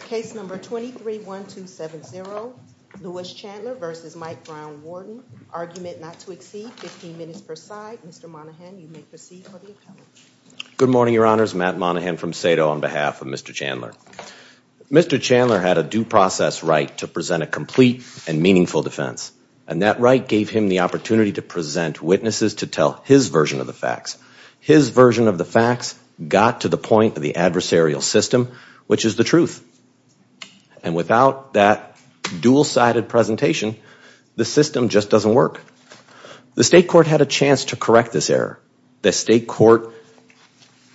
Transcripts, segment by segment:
Case number 231270, Lewis Chandler versus Mike Brown-Warden. Argument not to exceed 15 minutes per side. Mr. Monaghan, you may proceed for the appellate. Good morning, Your Honors. Matt Monaghan from SATO on behalf of Mr. Chandler. Mr. Chandler had a due process right to present a complete and meaningful defense. And that right gave him the opportunity to present witnesses to tell his version of the facts. His version of the facts got to the point of the adversarial system, which is the truth. And without that dual-sided presentation, the system just doesn't work. The state court had a chance to correct this error. The state court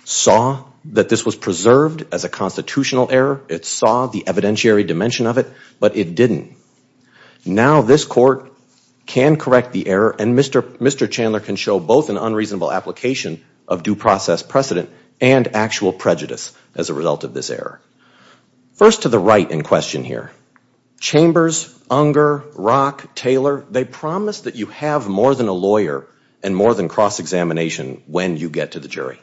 saw that this was preserved as a constitutional error. It saw the evidentiary dimension of it, but it didn't. Now this court can correct the error, and Mr. Chandler can show both an unreasonable application of due process precedent and actual prejudice as a result of this error. First to the right in question here. Chambers, Unger, Rock, Taylor, they promise that you have more than a lawyer and more than cross-examination when you get to the jury.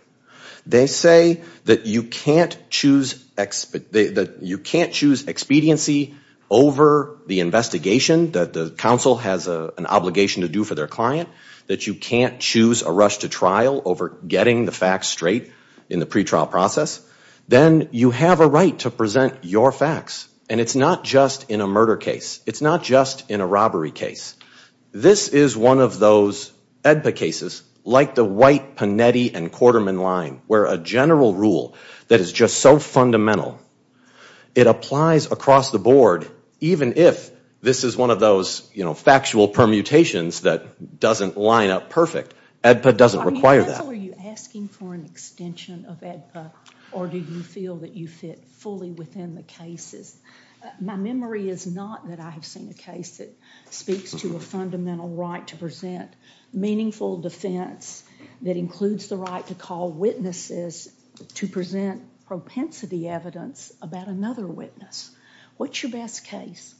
They say that you can't choose expediency over the investigation that the counsel has an obligation to do for their client. That you can't choose a rush to trial over getting the facts straight in the pretrial process. Then you have a right to present your facts. And it's not just in a murder case. It's not just in a robbery case. This is one of those AEDPA cases, like the White, Panetti, and Quarterman line, where a general rule that is just so fundamental, it applies across the board even if this is one of those factual permutations that doesn't line up perfect. AEDPA doesn't require that. Are you asking for an extension of AEDPA, or do you feel that you fit fully within the cases? My memory is not that I have seen a case that speaks to a fundamental right to present meaningful defense that includes the right to call witnesses to present propensity evidence about another witness. What's your best case?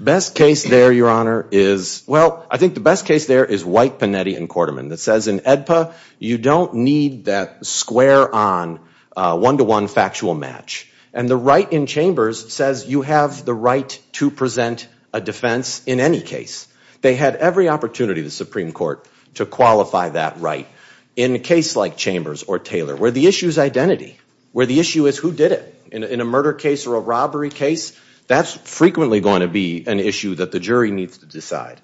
Best case there, Your Honor, is, well, I think the best case there is White, Panetti, and Quarterman. That says in AEDPA, you don't need that square-on, one-to-one factual match. And the right in Chambers says you have the right to present a defense in any case. They had every opportunity, the Supreme Court, to qualify that right in a case like Chambers or Taylor, where the issue is identity, where the issue is who did it. In a murder case or a robbery case, that's frequently going to be an issue that the jury needs to decide.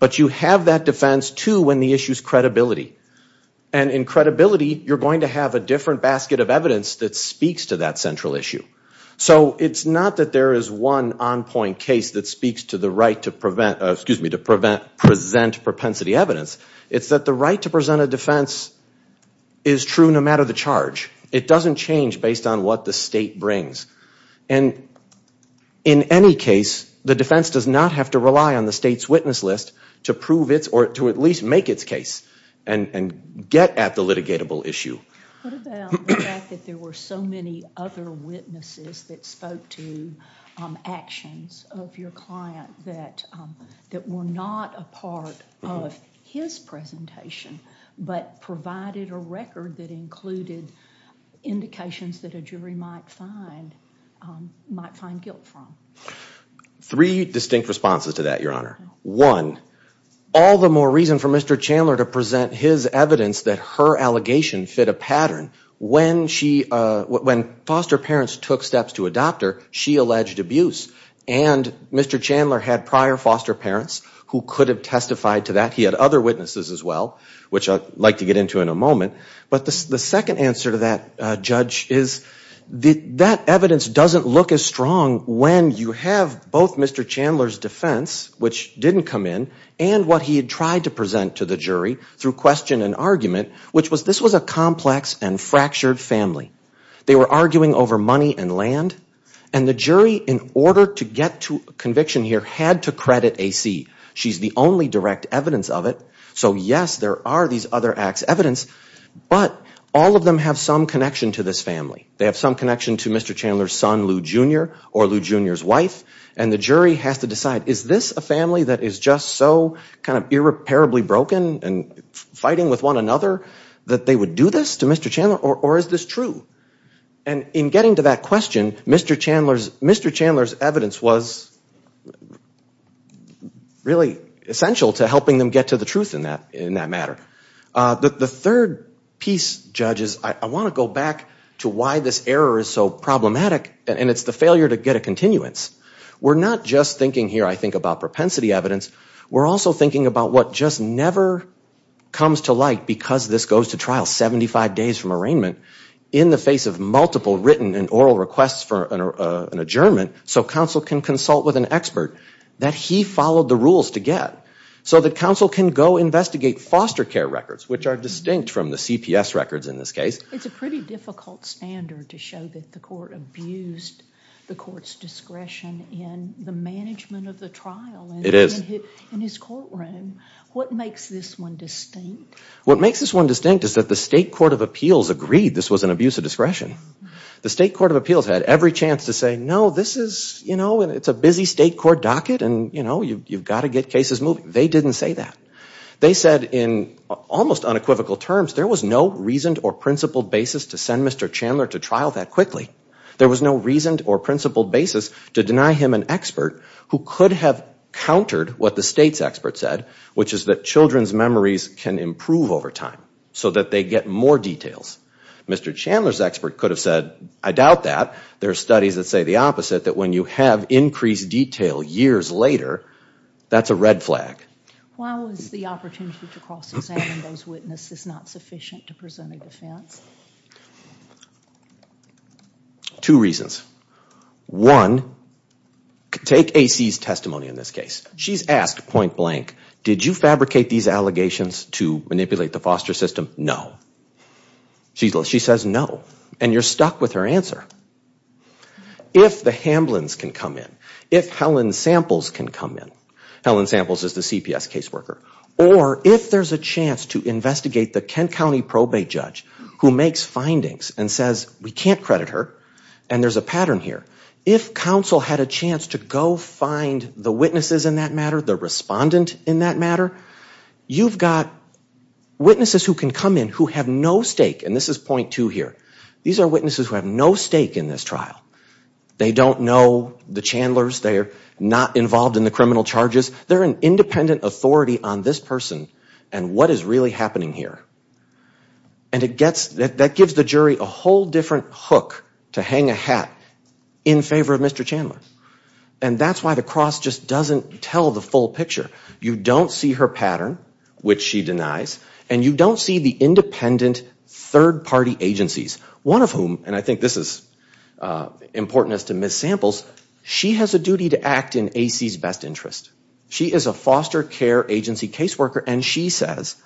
But you have that defense, too, when the issue is credibility. And in credibility, you're going to have a different basket of evidence that speaks to that central issue. So it's not that there is one on-point case that speaks to the right to present propensity evidence. It's that the right to present a defense is true no matter the charge. It doesn't change based on what the state brings. And in any case, the defense does not have to rely on the state's witness list to prove its or to at least make its case and get at the litigatable issue. What about the fact that there were so many other witnesses that spoke to actions of your client that were not a part of his presentation but provided a record that included indications that a jury might find guilt from? Three distinct responses to that, Your Honor. One, all the more reason for Mr. Chandler to present his evidence that her allegation fit a pattern. When foster parents took steps to adopt her, she alleged abuse. And Mr. Chandler had prior foster parents who could have testified to that. He had other witnesses as well, which I'd like to get into in a moment. But the second answer to that, Judge, is that evidence doesn't look as strong when you have both Mr. Chandler's defense, which didn't come in, and what he had tried to present to the jury through question and argument, which was this was a complex and fractured family. They were arguing over money and land. And the jury, in order to get to conviction here, had to credit A.C. She's the only direct evidence of it. So yes, there are these other acts of evidence. But all of them have some connection to this family. They have some connection to Mr. Chandler's son, Lou Jr., or Lou Jr.'s wife. And the jury has to decide, is this a family that is just so kind of irreparably broken and fighting with one another that they would do this to Mr. Chandler, or is this true? And in getting to that question, Mr. Chandler's evidence was really essential to helping them get to the truth in that matter. The third piece, judges, I want to go back to why this error is so problematic, and it's the failure to get a continuance. We're not just thinking here, I think, about propensity evidence. We're also thinking about what just never comes to light because this goes to trial 75 days from arraignment in the face of multiple written and oral requests for an adjournment so counsel can consult with an expert that he followed the rules to get so that counsel can go investigate foster care records, which are distinct from the CPS records in this case. It's a pretty difficult standard to show that the court abused the court's discretion in the management of the trial. It is. In his courtroom. What makes this one distinct? What makes this one distinct is that the state court of appeals agreed this was an abuse of discretion. The state court of appeals had every chance to say, no, this is, you know, it's a busy state court docket and, you know, you've got to get cases moving. They didn't say that. They said in almost unequivocal terms, there was no reasoned or principled basis to send Mr. Chandler to trial that quickly. There was no reasoned or principled basis to deny him an expert who could have countered what the state's expert said, which is that children's memories can improve over time so that they get more details. Mr. Chandler's expert could have said, I doubt that. There are studies that say the opposite, that when you have increased detail years later, that's a red flag. Why was the opportunity to cross-examine those witnesses not sufficient to present a defense? Two reasons. One, take A.C.'s testimony in this case. She's asked point blank, did you fabricate these allegations to manipulate the foster system? No. She says no. And you're stuck with her answer. If the Hamblins can come in, if Helen Samples can come in, Helen Samples is the CPS caseworker, or if there's a chance to investigate the Kent County probate judge who makes findings and says, we can't credit her, and there's a pattern here, if counsel had a chance to go find the witnesses in that matter, the respondent in that matter, you've got witnesses who can come in who have no stake, and this is point two here. These are witnesses who have no stake in this trial. They don't know the Chandlers. They are not involved in the criminal charges. They're an independent authority on this person and what is really happening here. And that gives the jury a whole different hook to hang a hat in favor of Mr. Chandler. And that's why the cross just doesn't tell the full picture. You don't see her pattern, which she denies, and you don't see the independent third party agencies, one of whom, and I think this is important as to Ms. Samples, she has a duty to act in AC's best interest. She is a foster care agency caseworker and she says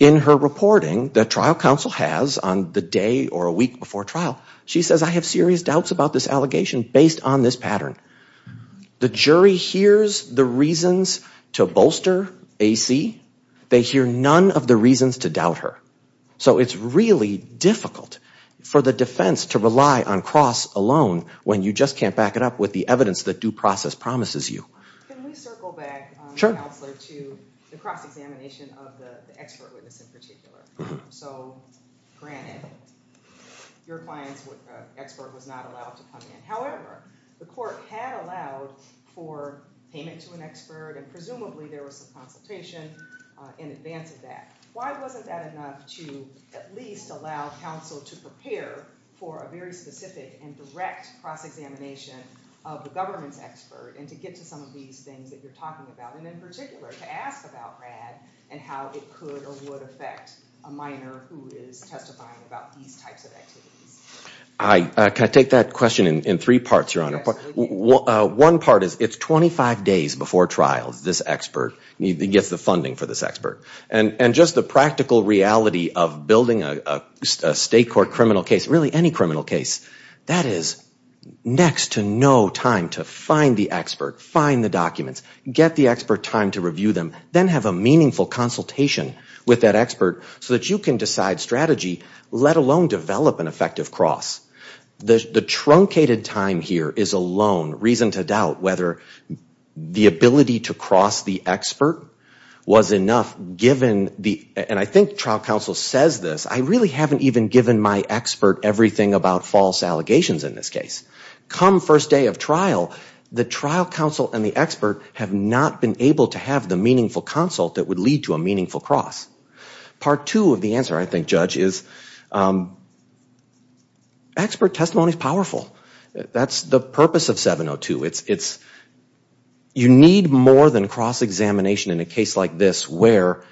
in her reporting that trial counsel has on the day or a week before trial, she says I have serious doubts about this allegation based on this pattern. The jury hears the reasons to bolster AC. They hear none of the reasons to doubt her. So it's really difficult for the defense to rely on cross alone when you just can't back it up with the evidence that due process promises you. Can we circle back, Counselor, to the cross examination of the expert witness in particular? So granted, your client's expert was not allowed to come in. However, the court had allowed for payment to an expert and presumably there was some consultation in advance of that. Why wasn't that enough to at least allow counsel to prepare for a very specific and direct cross examination of the government's expert and to get to some of these things that you're talking about and in particular to ask about Brad and how it could or would affect a minor who is testifying about these types of activities? Can I take that question in three parts, Your Honor? Absolutely. One part is it's 25 days before trial, this expert. He gets the funding for this expert. And just the practical reality of building a state court criminal case, really any criminal case, that is next to no time to find the expert, find the documents, get the expert time to review them, then have a meaningful consultation with that expert so that you can decide strategy, let alone develop an effective cross. The truncated time here is alone reason to doubt whether the ability to cross the expert was enough given the, and I think trial counsel says this, I really haven't even given my expert everything about false allegations in this case. Come first day of trial, the trial counsel and the expert have not been able to have the meaningful consult that would lead to a meaningful cross. Part two of the answer, I think, Judge, is expert testimony is powerful. That's the purpose of 702. It's, you need more than cross-examination in a case like this where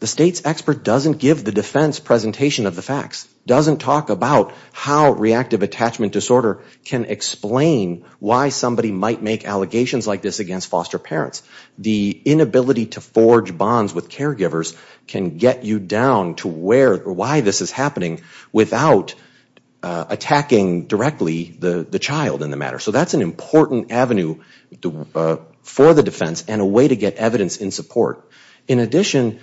the state's expert doesn't give the defense presentation of the facts, doesn't talk about how reactive attachment disorder can explain why somebody might make allegations like this against foster parents. The inability to forge bonds with caregivers can get you down to where or why this is happening without attacking directly the child in the matter. So that's an important avenue for the defense and a way to get evidence in support. In addition,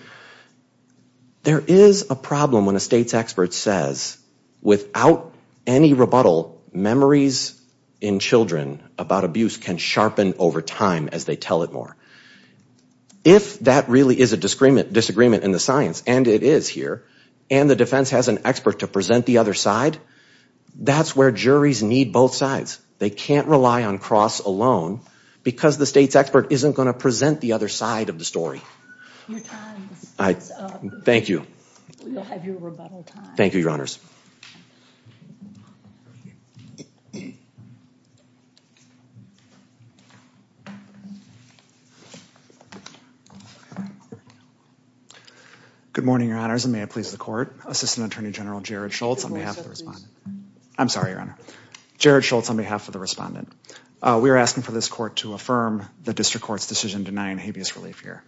there is a problem when a state's expert says, without any rebuttal, memories in children about abuse can sharpen over time as they tell it more. If that really is a disagreement in the science, and it is here, and the defense has an expert to present the other side, that's where juries need both sides. They can't rely on cross alone because the state's expert isn't going to present the other side of the story. Your time is up. Thank you. You'll have your rebuttal time. Thank you, Your Honors. Good morning, Your Honors, and good morning, ladies of the court. Assistant Attorney General Jared Schultz on behalf of the respondent. I'm sorry, Your Honor. Jared Schultz on behalf of the respondent. We are asking for this court to affirm the district court's decision denying habeas relief here.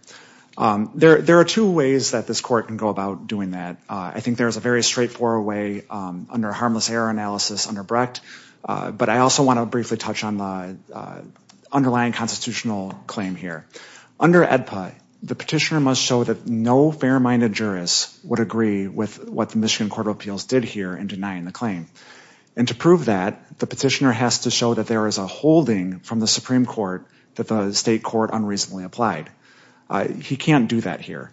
There are two ways that this court can go about doing that. I think there is a very straightforward way under harmless error analysis under Brecht, but I also want to briefly touch on the underlying constitutional claim here. Under AEDPA, the petitioner must show that no fair-minded jurist would agree with what the Michigan Court of Appeals did here in denying the claim. And to prove that, the petitioner has to show that there is a holding from the Supreme Court that the state court unreasonably applied. He can't do that here.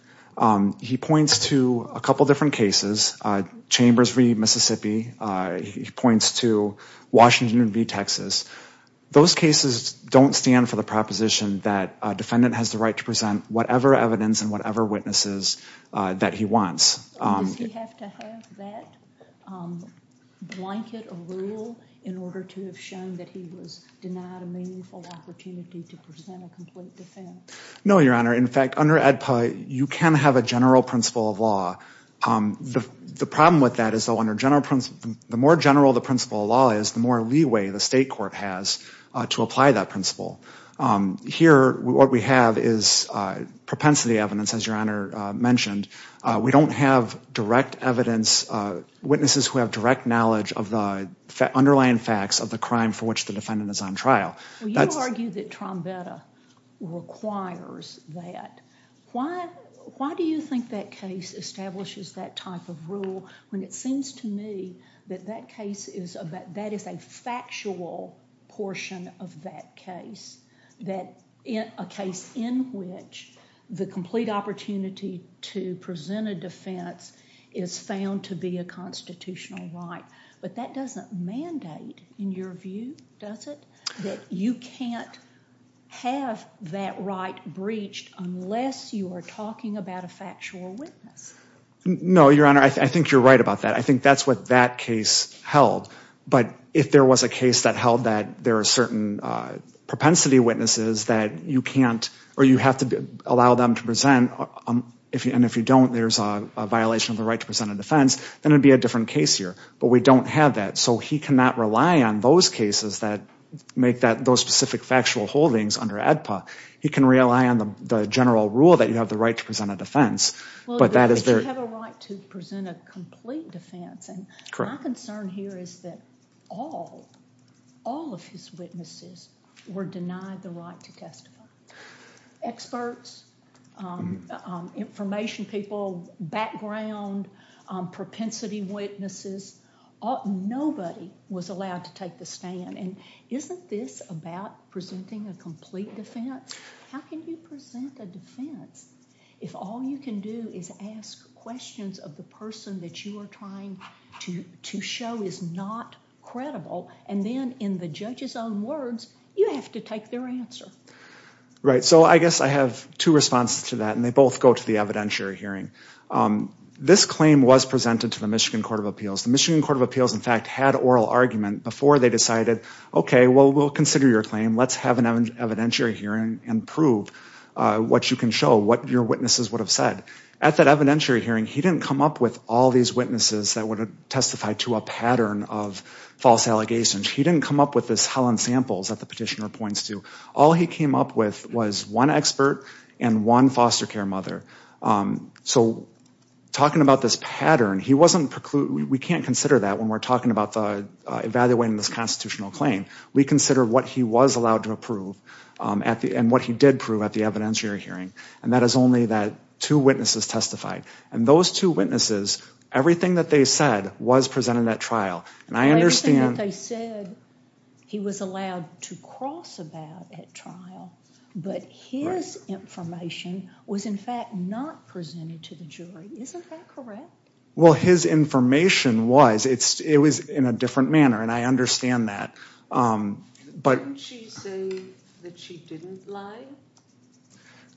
He points to a couple different cases, Chambers v. Mississippi. He points to Washington v. Texas. Those cases don't stand for the proposition that a defendant has the right to present whatever evidence and whatever witnesses that he wants. Does he have to have that blanket of rule in order to have shown that he was denied a meaningful opportunity to present a complete defense? No, Your Honor. In fact, under AEDPA, you can have a general principle of law. The problem with that is the more general the principle of law is, the more leeway the state court has to apply that principle. Here, what we have is propensity evidence, as Your Honor mentioned. We don't have direct evidence, witnesses who have direct knowledge of the underlying facts of the crime for which the defendant is on trial. You argue that Trombetta requires that. Why do you think that case establishes that type of rule when it seems to me that that case is, that is a factual portion of that case, a case in which the complete opportunity to present a defense is found to be a constitutional right? But that doesn't mandate, in your view, does it? That you can't have that right breached unless you are talking about a factual witness. No, Your Honor. I think you're right about that. I think that's what that case held. But if there was a case that held that there are certain propensity witnesses that you can't, or you have to allow them to present, and if you don't, there's a violation of the right to present a defense, then it would be a different case here. But we don't have that. So he cannot rely on those cases that make those specific factual holdings under AEDPA. He can rely on the general rule that you have the right to present a defense. But that is their... Well, if you have a right to present a complete defense, and my concern here is that all, all of his witnesses were denied the right to testify. Experts, information people, background, propensity witnesses, nobody was allowed to take the stand. And isn't this about presenting a complete defense? How can you present a defense if all you can do is ask questions of the person that you are trying to show is not credible, and then in the judge's own words, you have to take their answer? Right. So I guess I have two responses to that, and they both go to the evidentiary hearing. This claim was presented to the Michigan Court of Appeals. The Michigan Court of Appeals, in fact, had oral argument before they decided, okay, well, we'll consider your claim. Let's have an evidentiary hearing and prove what you can show, what your witnesses would have said. At that evidentiary hearing, he did not testify to a pattern of false allegations. He didn't come up with this Helen samples that the petitioner points to. All he came up with was one expert and one foster care mother. So talking about this pattern, he wasn't precluded. We can't consider that when we're talking about evaluating this constitutional claim. We consider what he was allowed to approve and what he did prove at the evidentiary hearing, and that is only that two witnesses testified. And those two witnesses, it was presented at trial. And I understand... Everything that they said, he was allowed to cross about at trial, but his information was, in fact, not presented to the jury. Isn't that correct? Well, his information was. It was in a different manner, and I understand that. But... Didn't she say that she didn't lie?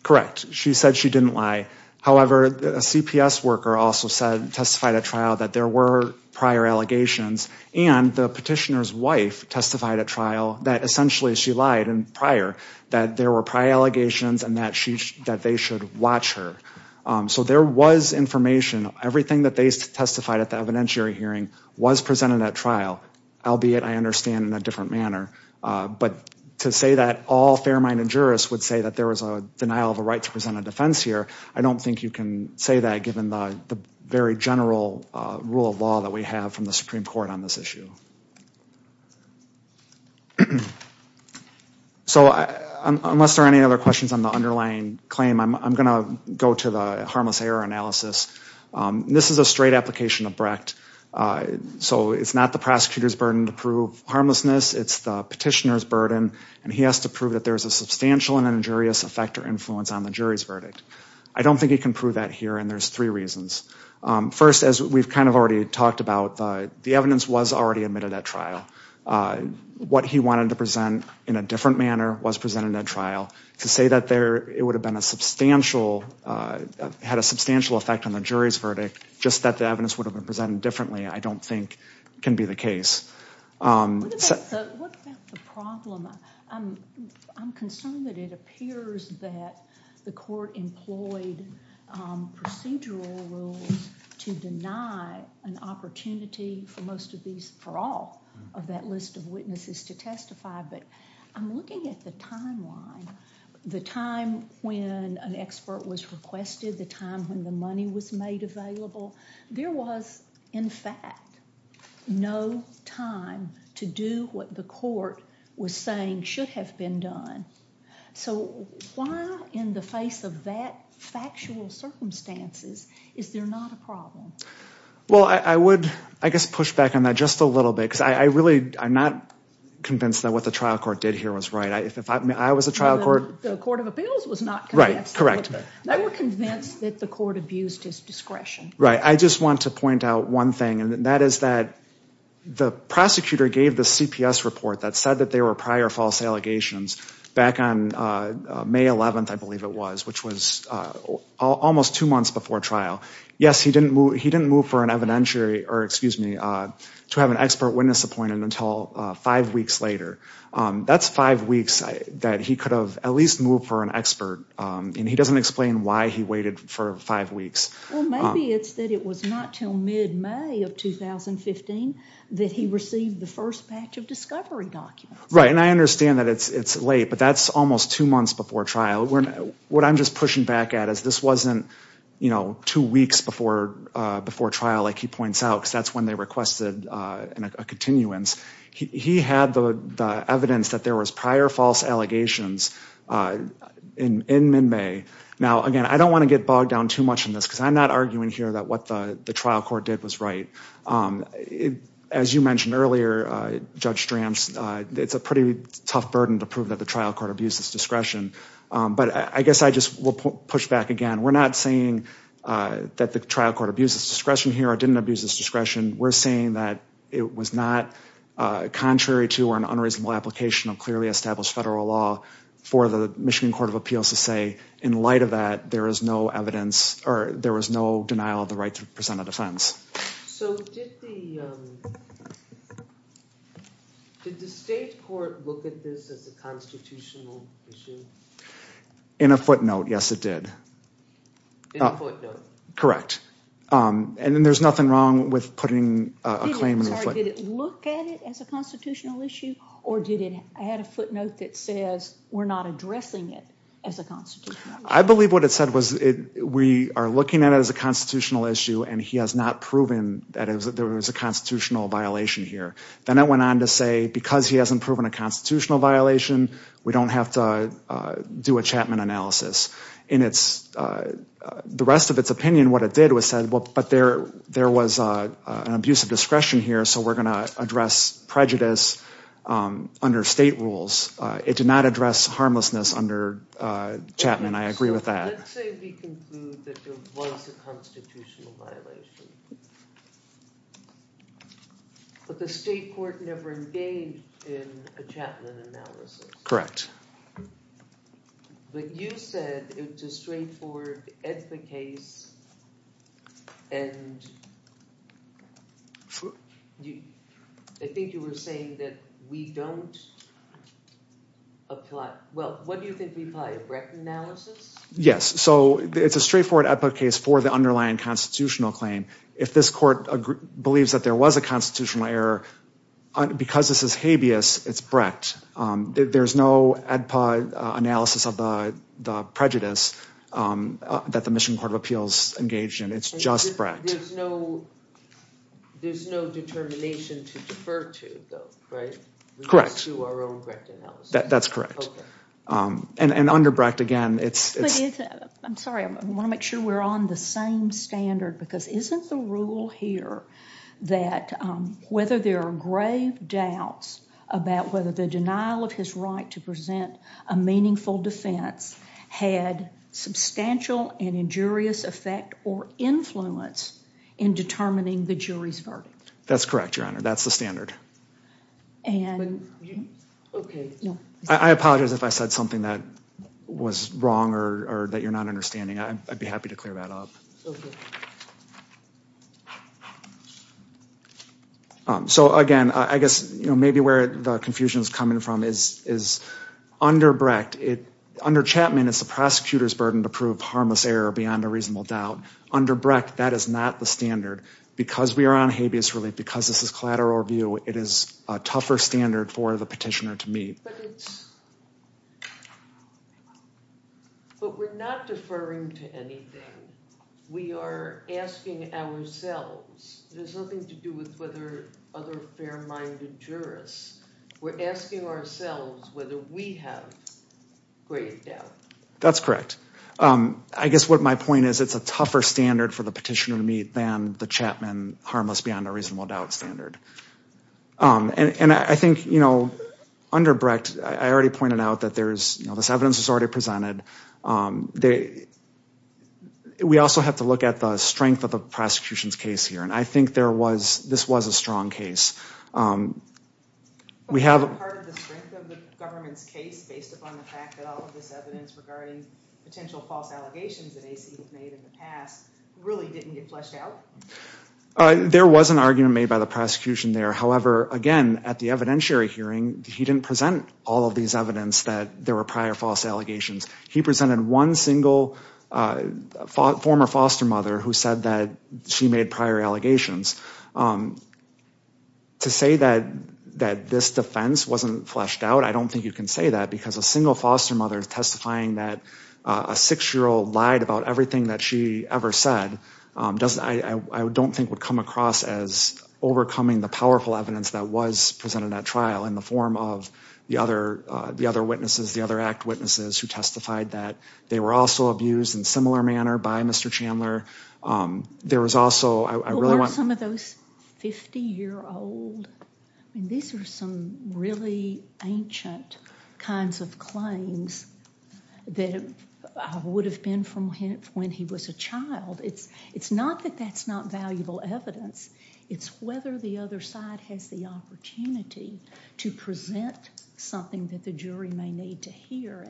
Correct. She said she didn't lie. However, a CPS worker also testified prior allegations, and the petitioner's wife testified at trial that essentially she lied prior, that there were prior allegations and that they should watch her. So there was information. Everything that they testified at the evidentiary hearing was presented at trial, albeit, I understand, in a different manner. But to say that all fair-minded jurists would say that there was a denial of a right to present a defense here, I don't think you can say that given the very general rule of law that we have from the Supreme Court on this issue. So unless there are any other questions on the underlying claim, I'm going to go to the harmless error analysis. This is a straight application of Brecht, so it's not the prosecutor's burden to prove harmlessness. It's the petitioner's burden, and he has to prove that there's a substantial and injurious effect or influence on the jury's verdict. I don't think he can prove that here, and there's three reasons. First, as we've kind of already talked about, the evidence was already admitted at trial. What he wanted to present in a different manner was presented at trial. To say that it had a substantial effect on the jury's verdict, just that the evidence would have been presented differently, I don't think can be the case. What about the problem? I'm concerned that it appears that the court employed procedural rules to deny an opportunity for most of these, for all of that list of witnesses to testify, but I'm looking at the timeline. The time when an expert was requested, the time when the money was made available, there was, in fact, no time to do what the court was saying should have been done. So why, in the face of that factual circumstances, is there not a problem? Well, I would, I guess, push back on that just a little bit, because I really am not convinced that what the trial court did here was right. If I was a trial court... The Court of Appeals was not convinced. Right, correct. They were convinced that the court abused his discretion. Right, I just want to point out one thing, and that is that the prosecutor gave the CPS report that said that there were prior false allegations, back on May 11th, I believe it was, which was almost two months before trial. Yes, he didn't move for an evidentiary, or excuse me, to have an expert witness appointed until five weeks later. That's five weeks that he could have at least moved for an expert, and he doesn't explain why he waited for five weeks. Well, maybe it's that it was not until mid-May of 2015 that he received the first patch of discovery documents. Right, and I understand that it's late, but that's almost two months before trial. What I'm just pushing back at is this wasn't two weeks before trial, like he points out, because that's when they requested a continuance. He had the evidence that there was prior false allegations in mid-May. Now, again, I don't want to get bogged down too much in this, because I'm not arguing here that what the trial court did was right. As you mentioned earlier, Judge Stramps, it's a pretty tough burden to prove that the trial court abused its discretion. But I guess I just will push back again. We're not saying that the trial court abused its discretion here or didn't abuse its discretion. We're saying that it was not contrary to an unreasonable application of clearly established federal law for the Michigan Court of Appeals to say in light of that, there is no evidence, or there was no denial of the right to present a defense. So did the state court look at this as a constitutional issue? In a footnote, yes, it did. Correct. And there's nothing wrong with putting a claim in a footnote. Did it look at it as a constitutional issue or did it add a footnote that says we're not addressing it as a constitutional issue? I believe what it said was we are looking at it as a constitutional issue and he has not proven that there was a constitutional violation here. Then it went on to say because he hasn't proven a constitutional violation, we don't have to do a Chapman analysis. In the rest of its opinion, what it did was say there was an abuse of discretion here so we're going to address prejudice under state rules. It did not address harmlessness under Chapman. I agree with that. Let's say we conclude that there was a constitutional violation. But the state court never engaged in a Chapman analysis. But you said it's a straightforward EDFA case and I think you were saying that we don't apply, well, what do you think we apply? A Brecht analysis? A straightforward EDFA case for the underlying constitutional claim. If this court believes that there was a constitutional error, because this is habeas, it's Brecht. There's no EDFA analysis of the prejudice that the Mission Court of Appeals engaged in. It's just Brecht. There's no determination to defer to, right? Correct. That's correct. And under Brecht, again, it's... I'm sorry. I want to make sure we're on the same standard because isn't the rule here that whether there are grave doubts about whether the denial of his right to present a meaningful defense had substantial and injurious effect or influence in determining the jury's verdict? That's correct, Your Honor. That's the standard. I apologize if I said something that was wrong or that you're not understanding. I'd be happy to clear that up. Okay. So, again, I guess, you know, maybe where the confusion is coming from is under Brecht, under Chapman, it's the prosecutor's burden to prove harmless error beyond a reasonable doubt. Under Brecht, that is not the standard. Because we are on habeas relief, because this is collateral review, it is a tougher standard for the petitioner to meet. But it's... But we're not deferring to anything. We are asking ourselves. It has nothing to do with whether other fair-minded jurists. We're asking ourselves whether we have grave doubt. That's correct. I guess what my point is, it's a tougher standard for the petitioner to meet than the Chapman harmless beyond a reasonable doubt standard. And I think, you know, under Brecht, I already pointed out that there's, you know, this evidence is already presented. We also have to look at the strength of the prosecution's case here. And I think there was, this was a strong case. We have... There was an argument made by the prosecution there. However, again, at the evidentiary hearing, he didn't present all of these evidence that there were prior false allegations. He presented one single former foster mother who said that she made prior allegations. To say that this defense wasn't fleshed out, I don't think you can say that, because a single foster mother testifying that a six-year-old lied about everything that she ever said, I don't think would come across as overcoming the powerful evidence that was presented at trial in the form of the other witnesses, the other act witnesses, who testified that they were also abused in a similar manner by Mr. Chandler. There was also, I really want... What are some of those 50-year-old... These are some really ancient kinds of claims that would have been from when he was a child. It's not that that's not valuable evidence. It's whether the other side has the opportunity to present something that the jury may need to hear.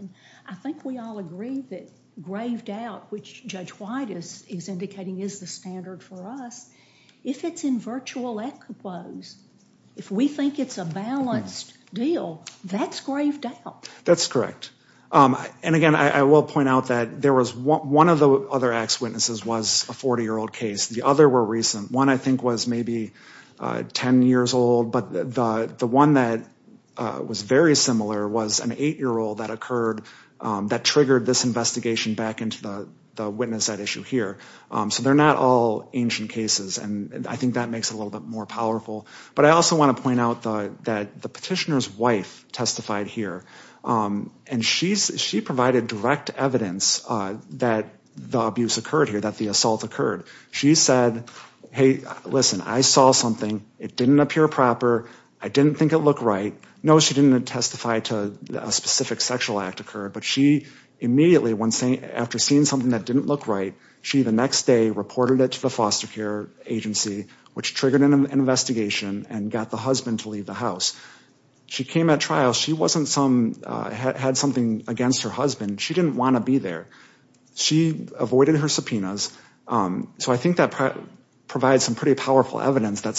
I think we all agree that grave doubt, which Judge White is indicating is the standard for us, if it's in virtual equipos, if we think it's a balanced deal, that's grave doubt. That's correct. Again, I will point out that one of the other act witnesses was a 40-year-old case. The other were recent. One, I think, was maybe 10 years old, but the one that was very similar was an eight-year-old that occurred, that triggered this investigation back into the witness at issue here. They're not all ancient cases. I think that makes it a little bit more powerful. I also want to point out that the petitioner's wife testified here. She provided direct evidence that the abuse occurred here, that the assault occurred. She said, hey, listen, I saw something. It didn't appear proper. I think it looked right. No, she didn't testify to a specific sexual act occurred, but she immediately, after seeing something that didn't look right, she the next day reported it to the foster care agency, which triggered an investigation and got the husband to leave the house. She came at trial. She had something against her husband. She didn't want to be there. She avoided her subpoenas, so I think that provides some pretty powerful evidence for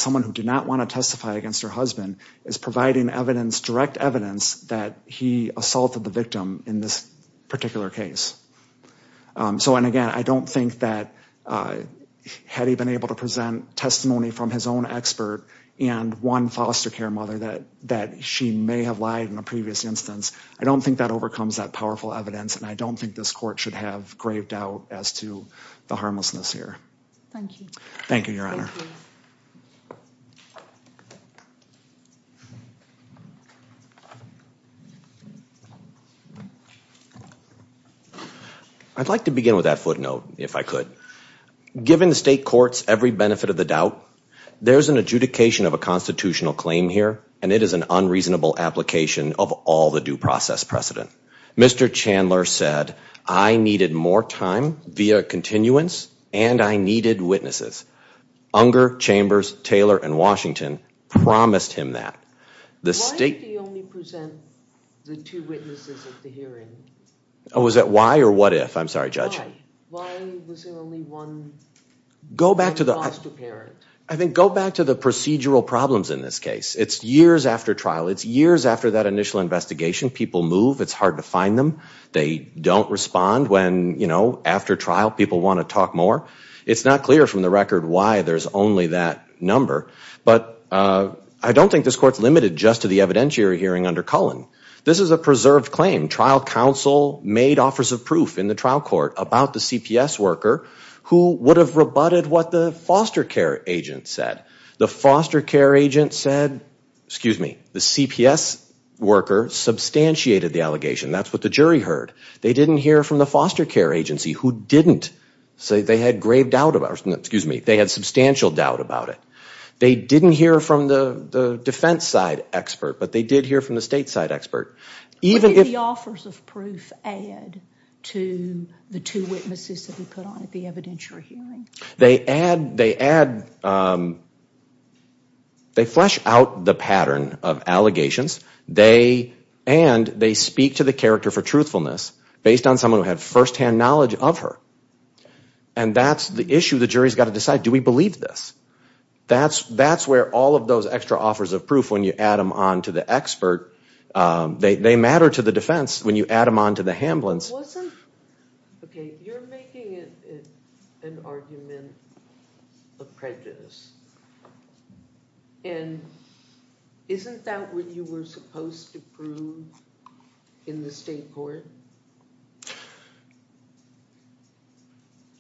providing direct evidence that he assaulted the victim in this particular case. So, and again, I don't think that had he been able to present testimony from his own expert and one foster care mother that she may have lied in a previous instance, I don't think that overcomes that powerful evidence, and I don't think this court should have grave doubt as to the harmlessness here. Thank you, Your Honor. I'd like to begin with that footnote, if I could. Given the state court's every benefit of the doubt, there's an adjudication of a constitutional claim here, and it is an unreasonable application of all the due process precedent. Mr. Chandler said, I needed more time via continuance, and I needed witnesses. Unger, Chambers, Taylor, and Washington the state... Why did he only present the two witnesses at the hearing? Oh, is that why or what if? I'm sorry, Judge. Why? Why was there only one foster parent? Go back to the procedural problems in this case. It's years after trial. It's years after that initial investigation. People move. It's hard to find them. They don't respond when, you know, after trial people adjust to the evidentiary hearing under Cullen. This is a preserved claim. Trial counsel made offers of proof in the trial court about the CPS worker who would have rebutted what the foster care agent said. The foster care agent said, excuse me, the CPS worker substantiated the allegation. That's what the jury heard. They didn't hear from the foster care agency expert, but they did hear from the stateside expert. What did the offers of proof add to the two witnesses that he put on at the evidentiary hearing? They add, they add, they flesh out the pattern of allegations. They, and they speak to the character for truthfulness based on someone who had first-hand knowledge of her. And that's the issue the jury has got to decide. Do we believe this? When you add them on to the expert, they matter to the defense when you add them on to the Hamblin's. Okay, you're making an argument of prejudice. isn't that what you were supposed to prove in the state court?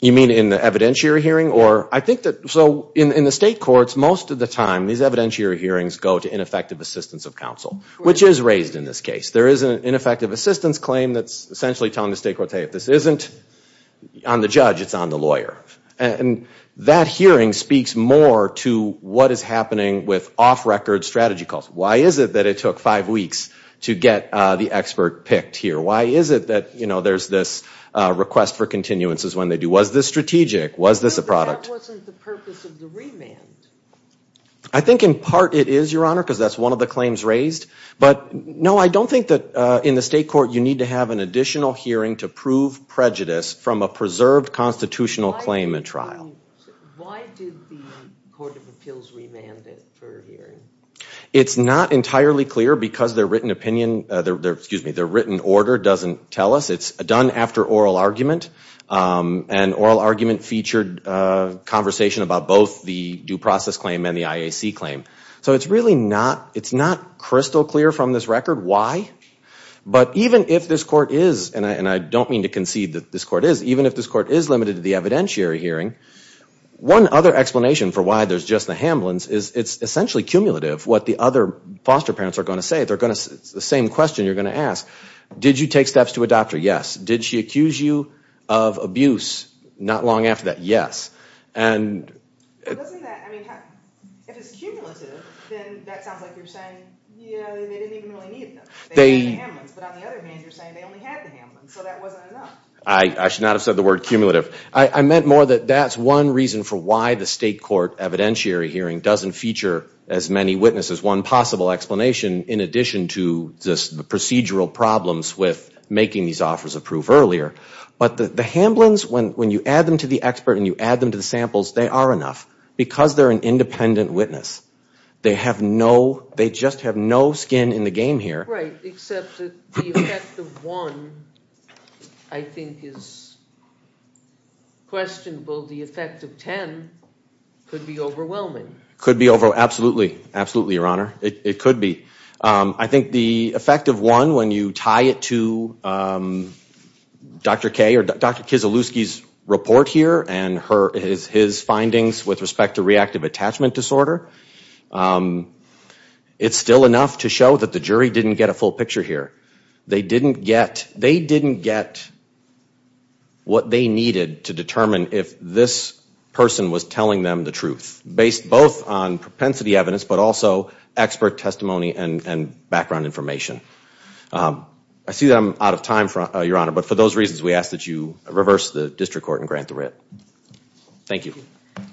You mean in the evidentiary hearing? Or, I think that, so, in the state courts, most of the time these evidentiary hearings go to ineffective assistance of counsel, which is raised in this case. There is an ineffective assistance claim that's essentially telling the state court, hey, if this isn't on the judge, it's on the lawyer. And that hearing speaks more to what is happening with off-record strategy calls. Why is it that it took five weeks to get the expert picked here? Why is it that, you know, there's this request for an additional hearing? I think in part it is, Your Honor, because that's one of the claims raised. But, no, I don't think that in the state court you need to have an additional hearing to prove prejudice from a preserved constitutional claim in trial. Why did the Court of Appeals remand it for a hearing? It's not entirely clear because their written opinion, excuse me, their written order doesn't tell us. It's done after oral argument. And oral argument featured conversation about both the due process claim and the IAC claim. So it's really not, it's not crystal clear from this record why. But even if this court is, and I don't mean to concede that this court is, even if this court is limited to the evidentiary hearing, one other explanation for why there's just the Hamlins is it's essentially cumulative what the other foster parents are going to say. They're going to, it's the same question you're going to ask. Did you take steps to adopt her? Yes. Did she accuse you of abuse? Not long after that, yes. And... Doesn't that, I mean, if it's cumulative then that sounds like you're saying yeah, they didn't even really need them. They had the Hamlins. But on the other hand, you're saying they only had the Hamlins. So that wasn't enough. I should not have said the word cumulative. I meant more that that's one reason for why the state court evidentiary hearing doesn't feature as many witnesses. One possible explanation in addition to just the procedural problems with making these offers of proof earlier. But the Hamlins, when you add them to the expert and you add them to the samples, they are enough because they're an independent witness. They have no, they just have no skin in the game here. Right, except that the effect of one I think is questionable. The effect of ten could be overwhelming. Could be overwhelming, absolutely. Absolutely, Your Honor. It could be. I think the effect of one when you tie it to Dr. Kaye, or Dr. Kieselowski's report here and his findings with respect to reactive attachment disorder, it's still enough to show that the jury didn't get a full picture here. They didn't get what they needed to determine if this person was telling them the truth. Based both on propensity evidence but also expert testimony and background information. I see that I'm running out of time, Your Honor, but for those reasons we ask that you reverse the district court and grant the writ. Thank you.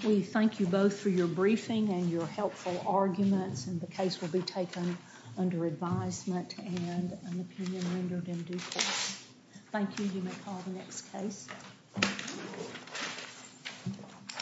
We thank you both for your briefing and your helpful arguments and the case will be taken under advisement and an opinion rendered in due course. Thank you. You may call the next case.